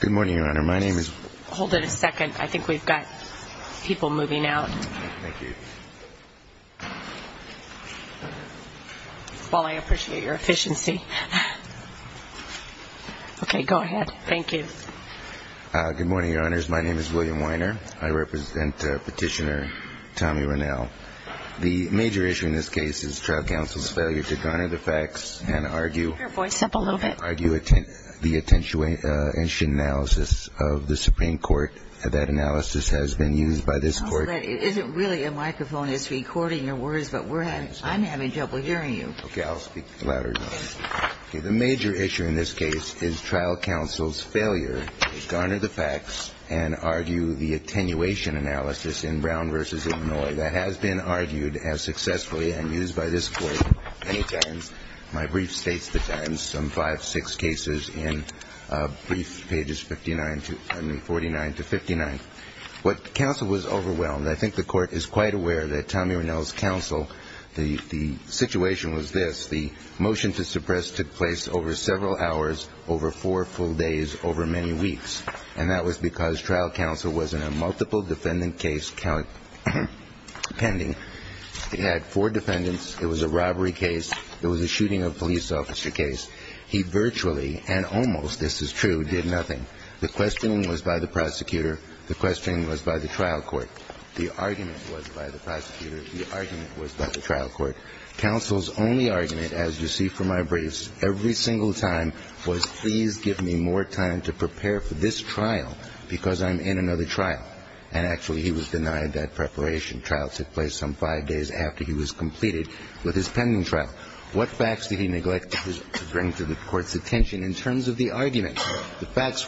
Good morning, Your Honor. My name is William Weiner. I represent Petitioner Tommy Runnell. The major issue in this case is the trial counsel's failure to garner the facts and argue the attenuation analysis in Brown v. Illinois that has been argued as successfully and used by this Court many times. My brief statement is that the trial counsel's failure to garner the facts and argue the attenuation analysis in Brown v. Illinois that has been argued as successfully and used by this Court many times. My brief statement is that the trial counsel's failure to garner the facts and argue the failure to garner the facts and argue the attenuation analysis in Brown v. Illinois that has been argued as successfully and used by this Court many times. As you see from my briefs, every single time was, please give me more time to prepare for this trial because I'm in another trial. And actually, he was denied that preparation. Trial took place some five days after he was completed with his pending trial. The facts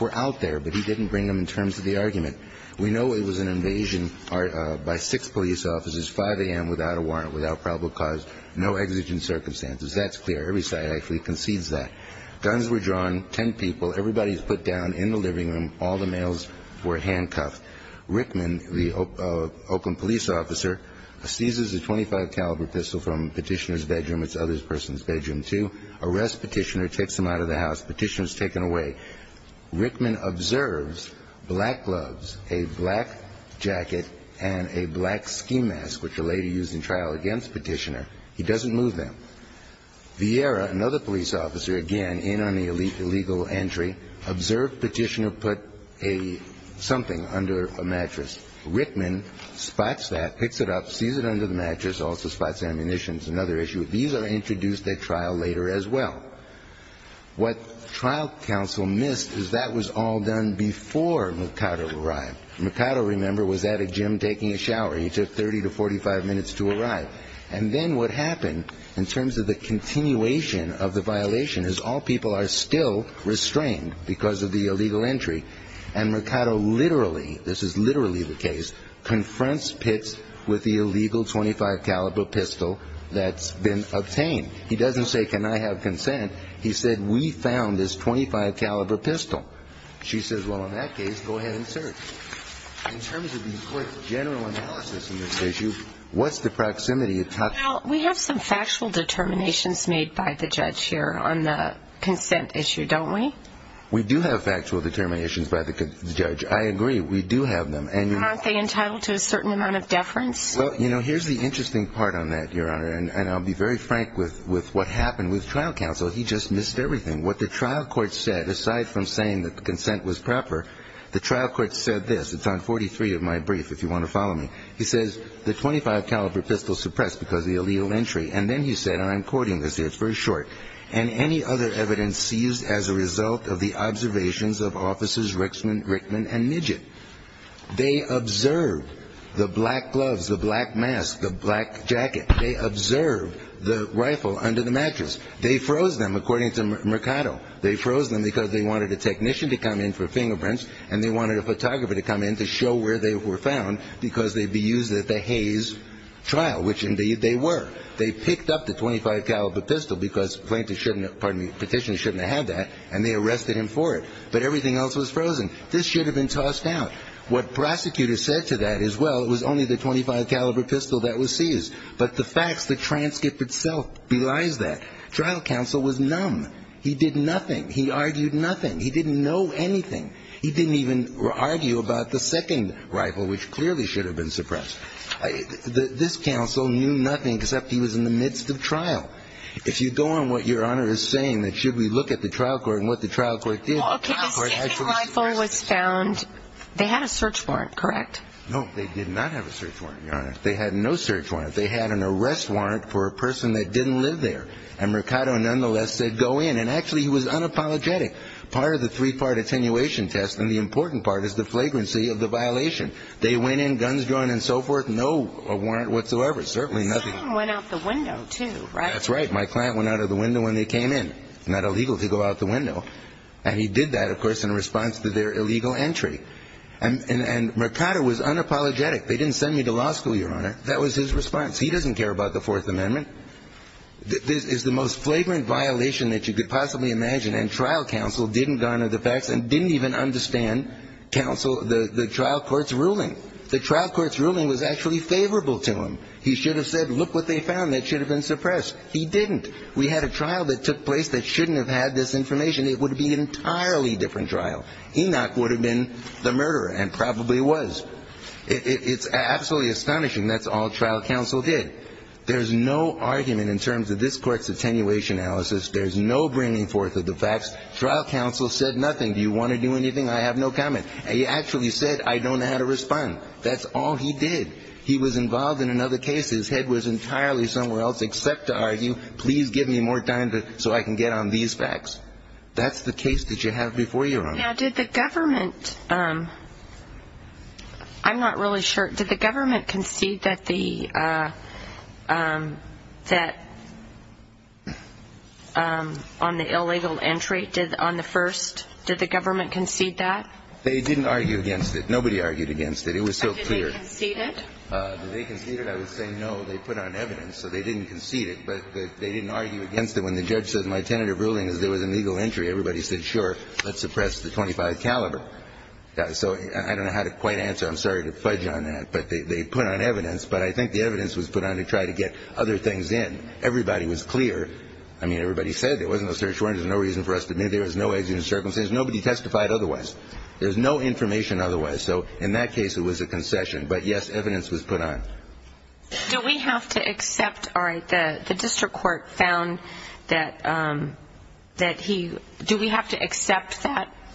were out there, but he didn't bring them in terms of the argument. We know it was an invasion by six police officers, 5 a.m. without a warrant, without probable cause, no exigent circumstances. That's clear. Every side actually concedes that. Guns were drawn, ten people. Everybody was put down in the living room. All the males were handcuffed. Rickman, the Oakland police officer, seizes a .25 caliber pistol from Petitioner's person's bedroom to arrest Petitioner, takes him out of the house. Petitioner's taken away. Rickman observes black gloves, a black jacket, and a black ski mask, which a lady used in trial against Petitioner. He doesn't move them. Vieira, another police officer, again in on the illegal entry, observed Petitioner put a something under a mattress. Rickman spots that, picks it up, sees it under the mattress, also spots ammunitions, another issue. These are introduced at trial later as well. What trial counsel missed is that was all done before Mercado arrived. Mercado, remember, was at a gym taking a shower. He took 30 to 45 minutes to arrive. And then what happened, in terms of the continuation of the violation, is all people are still restrained because of the illegal entry, and Mercado literally, this is literally the case, confronts Pitts with the illegal .25 caliber pistol that's been obtained. He doesn't say, can I have consent? He said, we found this .25 caliber pistol. She says, well, in that case, go ahead and search. In terms of the court's general analysis of this issue, what's the proximity? Well, we have some factual determinations made by the judge here on the consent issue, don't we? We do have factual determinations by the judge. I agree, we do have them. Aren't they entitled to a certain amount of deference? Well, you know, here's the interesting part on that, Your Honor, and I'll be very frank with what happened with trial counsel. He just missed everything. What the trial court said, aside from saying that the consent was proper, the trial court said this. It's on 43 of my brief, if you want to follow me. He says, the .25 caliber pistol suppressed because of the illegal entry. And then he said, and I'm quoting this here, it's very short, and any other evidence seized as a result of the observations of officers Rickman and Midget. They observed the black gloves, the black mask, the black jacket. They observed the rifle under the mattress. They froze them, according to Mercado. They froze them because they wanted a technician to come in for fingerprints, and they wanted a photographer to come in to show where they were found because they'd be used at the Hays trial, which indeed they were. They picked up the .25 caliber pistol because plaintiffs shouldn't have, pardon me, petitioners shouldn't have had that, and they arrested him for it. But everything else was frozen. This should have been tossed out. What prosecutors said to that is, well, it was only the .25 caliber pistol that was seized. But the facts, the transcript itself belies that. Trial counsel was numb. He did nothing. He argued nothing. He didn't know anything. He didn't even argue about the second rifle, which clearly should have been suppressed. This counsel knew nothing except he was in the midst of trial. If you go on what Your Honor is saying, that should we look at the trial court and what the trial court did? Okay, the second rifle was found. They had a search warrant, correct? No, they did not have a search warrant, Your Honor. They had no search warrant. They had an arrest warrant for a person that didn't live there, and Mercado nonetheless said go in. And actually, he was unapologetic. Part of the three-part attenuation test and the important part is the flagrancy of the violation. They went in, guns drawn and so forth, no warrant whatsoever, certainly nothing. The second went out the window, too, right? That's right. My client went out of the window when they came in. It's not illegal to go out the window. And he did that, of course, in response to their illegal entry. And Mercado was unapologetic. They didn't send me to law school, Your Honor. That was his response. He doesn't care about the Fourth Amendment. This is the most flagrant violation that you could possibly imagine. And trial counsel didn't garner the facts and didn't even understand counsel the trial court's ruling. The trial court's ruling was actually favorable to him. He should have said, look what they found that should have been suppressed. He didn't. We had a trial that took place that shouldn't have had this information. It would have been an entirely different trial. Enoch would have been the murderer and probably was. It's absolutely astonishing. That's all trial counsel did. There's no argument in terms of this court's attenuation analysis. There's no bringing forth of the facts. Trial counsel said nothing. Do you want to do anything? I have no comment. He actually said, I don't know how to respond. That's all he did. He was involved in another case. His head was entirely somewhere else except to argue, please give me more time so I can get on these facts. That's the case that you have before you, Your Honor. Now, did the government – I'm not really sure. Did the government concede that the – that on the illegal entry, on the first, did the government concede that? They didn't argue against it. Nobody argued against it. It was so clear. Did they concede it? Did they concede it? I would say no. They put on evidence, so they didn't concede it. But they didn't argue against it. When the judge says my tentative ruling is there was an illegal entry, everybody said, sure, let's suppress the .25 caliber. So I don't know how to quite answer. I'm sorry to fudge on that. But they put on evidence. But I think the evidence was put on to try to get other things in. Everybody was clear. I mean, everybody said there was no search warrant. There's no reason for us to admit there was no executive circumstances. Nobody testified otherwise. There's no information otherwise. So in that case, it was a concession. But, yes, evidence was put on. Do we have to accept? All right. The district court found that he do we have to accept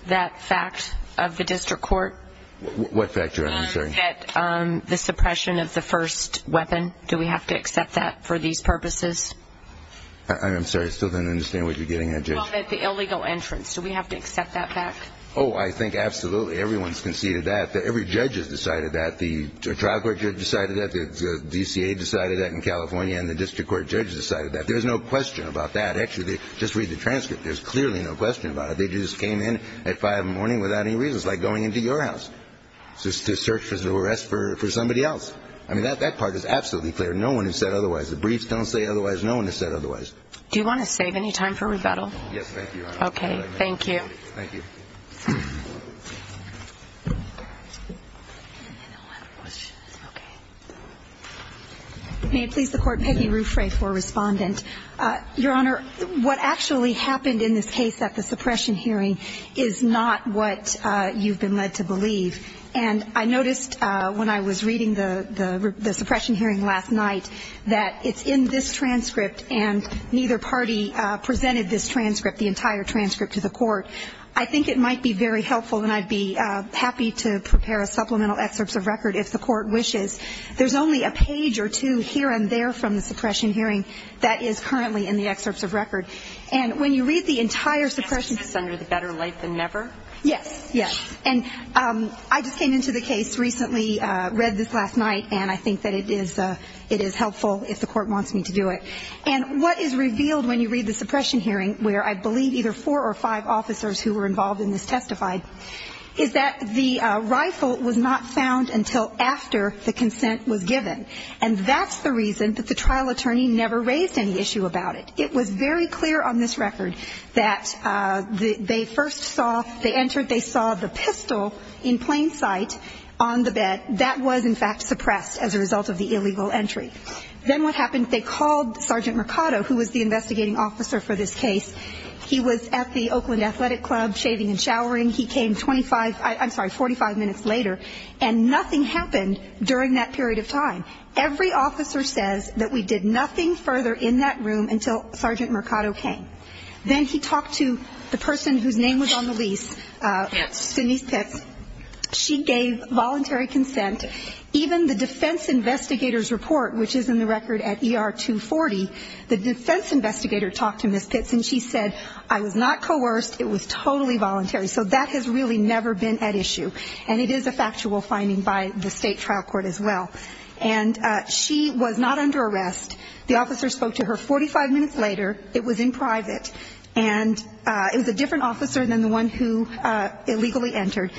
that fact of the district court? What fact? I'm sorry. That the suppression of the first weapon, do we have to accept that for these purposes? I'm sorry. I still don't understand what you're getting at, Judge. Well, that the illegal entrance, do we have to accept that fact? Oh, I think absolutely. Everyone's conceded that. Every judge has decided that. The trial court judge decided that. The DCA decided that in California. And the district court judge decided that. There's no question about that. Actually, just read the transcript. There's clearly no question about it. They just came in at 5 in the morning without any reason. It's like going into your house to search for arrest for somebody else. I mean, that part is absolutely clear. No one has said otherwise. The briefs don't say otherwise. No one has said otherwise. Do you want to save any time for rebuttal? Yes, thank you. Okay. Thank you. Thank you. Any other questions? Okay. May it please the Court, Peggy Ruffray for Respondent. Your Honor, what actually happened in this case at the suppression hearing is not what you've been led to believe. And I noticed when I was reading the suppression hearing last night that it's in this transcript and neither party presented this transcript, the entire transcript, to the Court. I think it might be very helpful, and I'd be happy to prepare supplemental excerpts of record if the Court wishes. There's only a page or two here and there from the suppression hearing that is currently in the excerpts of record. And when you read the entire suppression hearing ---- And it's under the better light than never? Yes, yes. And I just came into the case recently, read this last night, and I think that it is helpful if the Court wants me to do it. And what is revealed when you read the suppression hearing, where I believe either four or five officers who were involved in this testified, is that the rifle was not found until after the consent was given. And that's the reason that the trial attorney never raised any issue about it. It was very clear on this record that they first saw, they entered, they saw the pistol in plain sight on the bed. That was, in fact, suppressed as a result of the illegal entry. Then what happened, they called Sergeant Mercado, who was the investigating officer for this case. He was at the Oakland Athletic Club shaving and showering. He came 45 minutes later, and nothing happened during that period of time. Every officer says that we did nothing further in that room until Sergeant Mercado came. Then he talked to the person whose name was on the lease, Denise Pitts. She gave voluntary consent. Even the defense investigator's report, which is in the record at ER 240, the defense investigator talked to Ms. Pitts, and she said, I was not coerced. It was totally voluntary. So that has really never been at issue, and it is a factual finding by the state trial court as well. And she was not under arrest. The officer spoke to her 45 minutes later. It was in private, and it was a different officer than the one who illegally entered.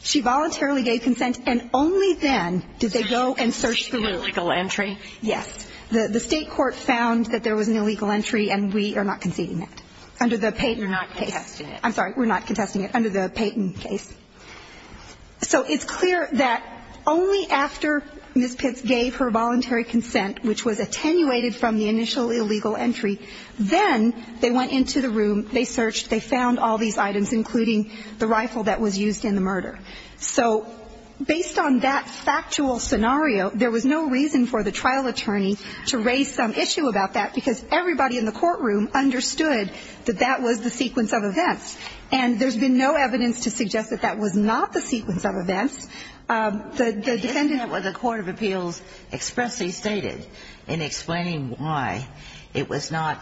She voluntarily gave consent, and only then did they go and search the room. Illegal entry? Yes. The state court found that there was an illegal entry, and we are not conceding that. Under the Payton case. You're not contesting it. I'm sorry. We're not contesting it. Under the Payton case. So it's clear that only after Ms. Pitts gave her voluntary consent, which was attenuated from the initial illegal entry, then they went into the room, they searched, they found all these items, including the rifle that was used in the murder. So based on that factual scenario, there was no reason for the trial attorney to raise some issue about that, because everybody in the courtroom understood that that was the sequence of events. And there's been no evidence to suggest that that was not the sequence of events. Isn't that what the court of appeals expressly stated in explaining why it was not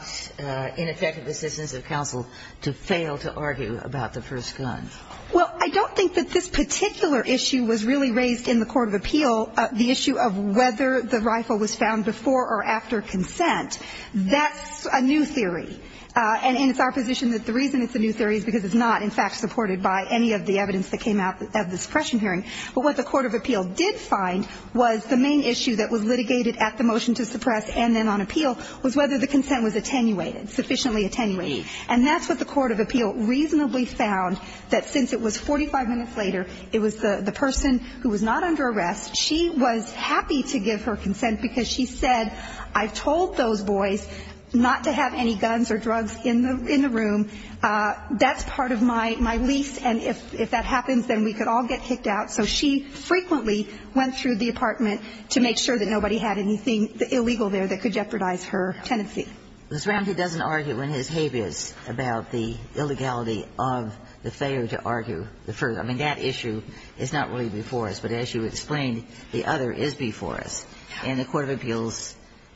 ineffective assistance of counsel to fail to argue about the first gun? Well, I don't think that this particular issue was really raised in the court of appeal, the issue of whether the rifle was found before or after consent. That's a new theory. And it's our position that the reason it's a new theory is because it's not, in fact, supported by any of the evidence that came out of the suppression hearing. But what the court of appeal did find was the main issue that was litigated at the motion to suppress and then on appeal was whether the consent was attenuated, sufficiently attenuated. And that's what the court of appeal reasonably found, that since it was 45 minutes later, it was the person who was not under arrest, she was happy to give her consent because she said, I've told those boys not to have any guns or drugs in the room. That's part of my lease. And if that happens, then we could all get kicked out. So she frequently went through the apartment to make sure that nobody had anything illegal there that could jeopardize her tenancy. Ms. Ramsey doesn't argue in his habeas about the illegality of the failure to argue the first. I mean, that issue is not really before us. But as you explained, the other is before us. And the court of appeals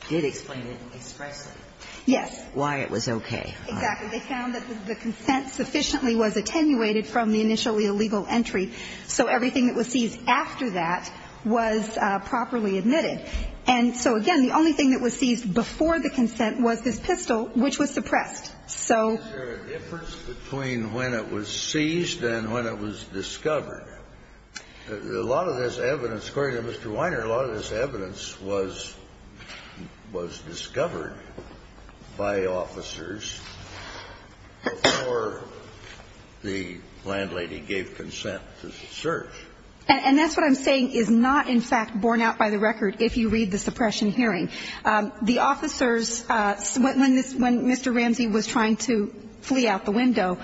did explain it expressly. Yes. Why it was okay. Exactly. They found that the consent sufficiently was attenuated from the initially illegal entry. So everything that was seized after that was properly admitted. And so, again, the only thing that was seized before the consent was this pistol, which was suppressed. So. Is there a difference between when it was seized and when it was discovered? A lot of this evidence, according to Mr. Weiner, a lot of this evidence was discovered by officers before the landlady gave consent to search. And that's what I'm saying is not, in fact, borne out by the record, if you read the suppression hearing. The officers, when Mr. Ramsey was trying to flee out the window,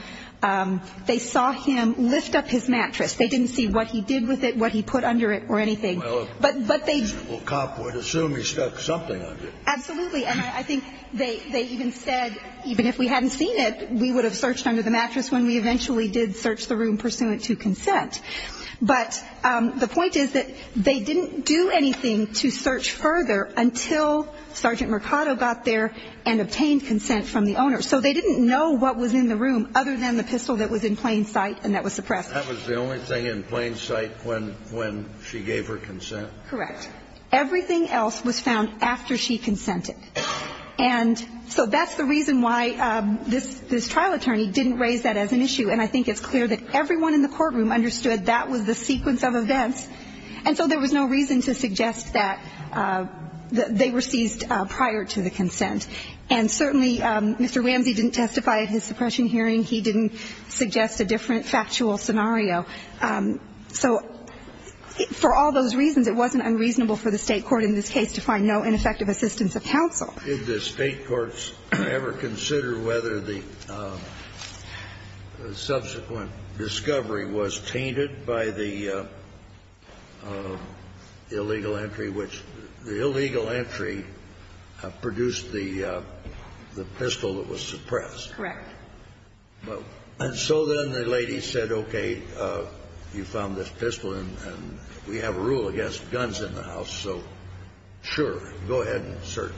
they saw him lift up his mattress. They didn't see what he did with it, what he put under it or anything. But they. Well, a cop would assume he stuck something under it. Absolutely. And I think they even said, even if we hadn't seen it, we would have searched under the mattress when we eventually did search the room pursuant to consent. But the point is that they didn't do anything to search further until Sergeant Mercado got there and obtained consent from the owner. So they didn't know what was in the room other than the pistol that was in plain sight and that was suppressed. That was the only thing in plain sight when she gave her consent? Correct. Everything else was found after she consented. And so that's the reason why this trial attorney didn't raise that as an issue. And I think it's clear that everyone in the courtroom understood that was the sequence of events. And so there was no reason to suggest that they were seized prior to the consent. And certainly, Mr. Ramsey didn't testify at his suppression hearing. He didn't suggest a different factual scenario. So for all those reasons, it wasn't unreasonable for the State court in this case to find no ineffective assistance of counsel. Did the State courts ever consider whether the subsequent discovery was tainted by the illegal entry, which the illegal entry produced the pistol that was suppressed? Correct. And so then the lady said, okay, you found this pistol and we have a rule against guns in the house, so sure, go ahead and search.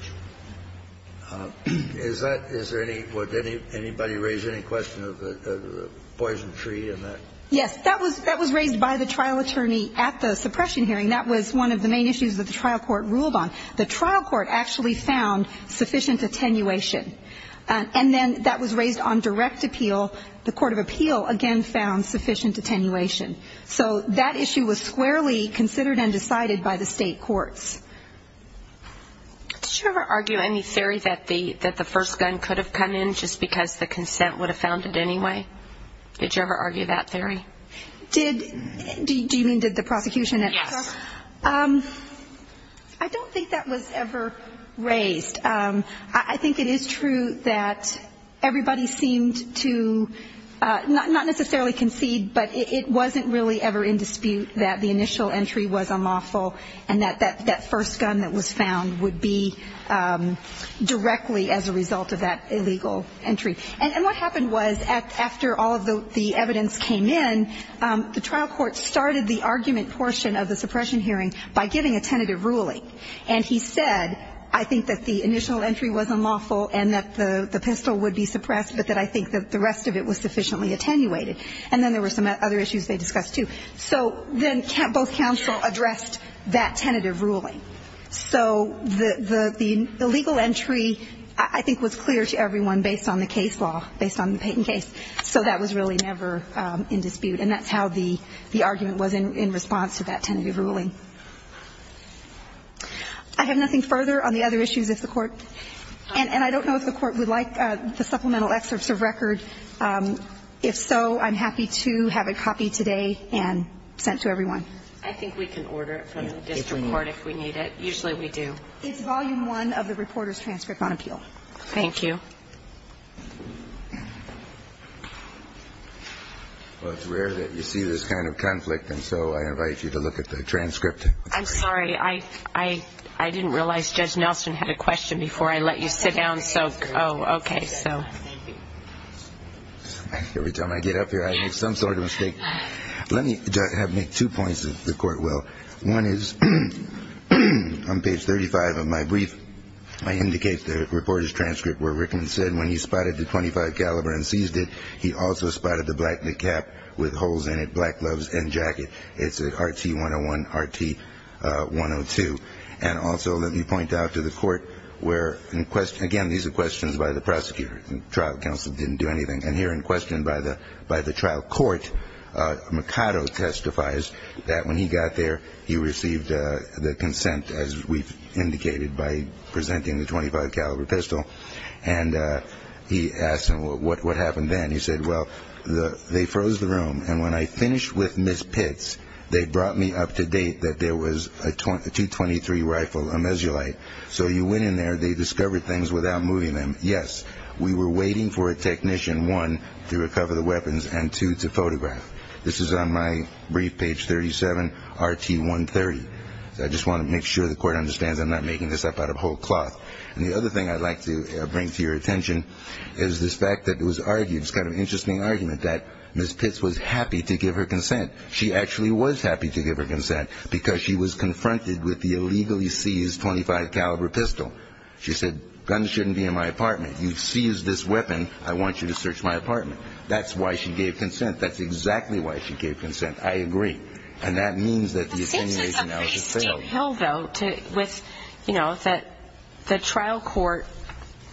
Is that ñ is there any ñ would anybody raise any question of the poison tree in that? Yes. That was raised by the trial attorney at the suppression hearing. That was one of the main issues that the trial court ruled on. The trial court actually found sufficient attenuation. And then that was raised on direct appeal. The court of appeal, again, found sufficient attenuation. So that issue was squarely considered and decided by the State courts. Did you ever argue any theory that the first gun could have come in just because the consent would have found it anyway? Did you ever argue that theory? Did ñ do you mean did the prosecution at the trial ñ Yes. I don't think that was ever raised. I think it is true that everybody seemed to ñ not necessarily concede, but it wasn't really ever in dispute that the initial entry was unlawful and that that first gun that was found would be directly as a result of that illegal entry. And what happened was after all of the evidence came in, the trial court started the argument portion of the suppression hearing by giving a tentative ruling. And he said, I think that the initial entry was unlawful and that the pistol would be suppressed, but that I think that the rest of it was sufficiently attenuated. And then there were some other issues they discussed, too. So then both counsel addressed that tentative ruling. So the illegal entry, I think, was clear to everyone based on the case law, based on the Payton case. So that was really never in dispute. And that's how the argument was in response to that tentative ruling. I have nothing further on the other issues if the Court ñ and I don't know if the Court would like the supplemental excerpts of record. If so, I'm happy to have a copy today and send it to everyone. I think we can order it from the district court if we need it. Usually we do. It's Volume I of the Reporter's Transcript on Appeal. Thank you. Well, it's rare that you see this kind of conflict, and so I invite you to look at the transcript. I'm sorry. I didn't realize Judge Nelson had a question before I let you sit down. Oh, okay. Thank you. Every time I get up here, I make some sort of a mistake. Let me make two points if the Court will. One is on page 35 of my brief, I indicate the Reporter's Transcript where Rickman said when he spotted the .25 caliber and seized it, he also spotted the black cap with holes in it, black gloves, and jacket. It's an RT-101, RT-102. And also let me point out to the Court where, again, these are questions by the prosecutor. The trial counsel didn't do anything. And here in question by the trial court, Mercado testifies that when he got there, he received the consent, as we've indicated, by presenting the .25 caliber pistol. And he asked him what happened then. He said, well, they froze the room. And when I finished with Ms. Pitts, they brought me up to date that there was a .223 rifle, a Mesulite. So you went in there. They discovered things without moving them. Yes, we were waiting for a technician, one, to recover the weapons, and two, to photograph. This is on my brief, page 37, RT-130. I just want to make sure the Court understands I'm not making this up out of whole cloth. And the other thing I'd like to bring to your attention is this fact that it was argued, this kind of interesting argument, that Ms. Pitts was happy to give her consent. She actually was happy to give her consent because she was confronted with the illegally seized .25 caliber pistol. She said, guns shouldn't be in my apartment. You've seized this weapon. I want you to search my apartment. That's why she gave consent. That's exactly why she gave consent. I agree. But this is a pretty steep hill, though, with, you know, that the trial court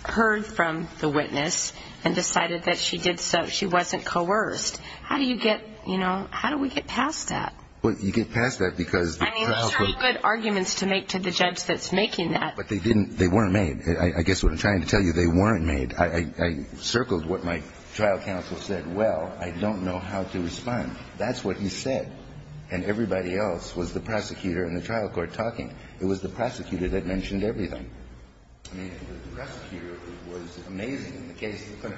heard from the witness and decided that she wasn't coerced. How do you get, you know, how do we get past that? Well, you get past that because the trial court. I mean, those are all good arguments to make to the judge that's making that. But they weren't made. I guess what I'm trying to tell you, they weren't made. I circled what my trial counsel said. Well, I don't know how to respond. That's what he said. And everybody else was the prosecutor and the trial court talking. It was the prosecutor that mentioned everything. I mean, the prosecutor was amazing in the case of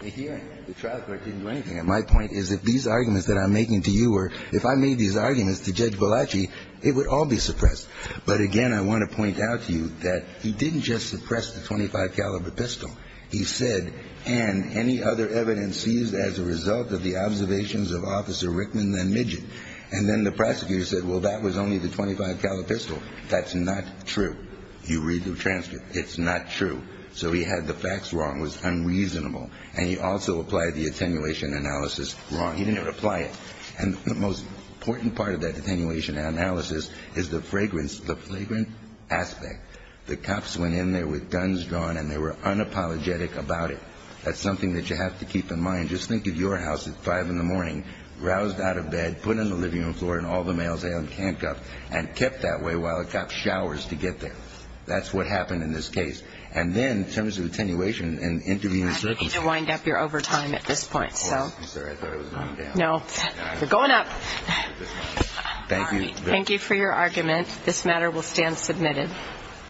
the hearing. The trial court didn't do anything. And my point is that these arguments that I'm making to you or if I made these arguments to Judge Valachi, it would all be suppressed. But, again, I want to point out to you that he didn't just suppress the .25 caliber pistol. He said, and any other evidence seized as a result of the observations of Officer Rickman and Midget. And then the prosecutor said, well, that was only the .25 caliber pistol. That's not true. You read the transcript. It's not true. So he had the facts wrong. It was unreasonable. And he also applied the attenuation analysis wrong. He didn't even apply it. And the most important part of that attenuation analysis is the fragrance, the flagrant aspect. The cops went in there with guns drawn and they were unapologetic about it. That's something that you have to keep in mind. Just think of your house at 5 in the morning, roused out of bed, put on the living room floor, and all the males on camp got and kept that way while the cop showers to get there. That's what happened in this case. And then in terms of attenuation and interviewing the circumstances. I need to wind up your overtime at this point. I'm sorry. I thought I was going down. No. You're going up. Thank you. Thank you for your argument. This matter will stand submitted. Thank you.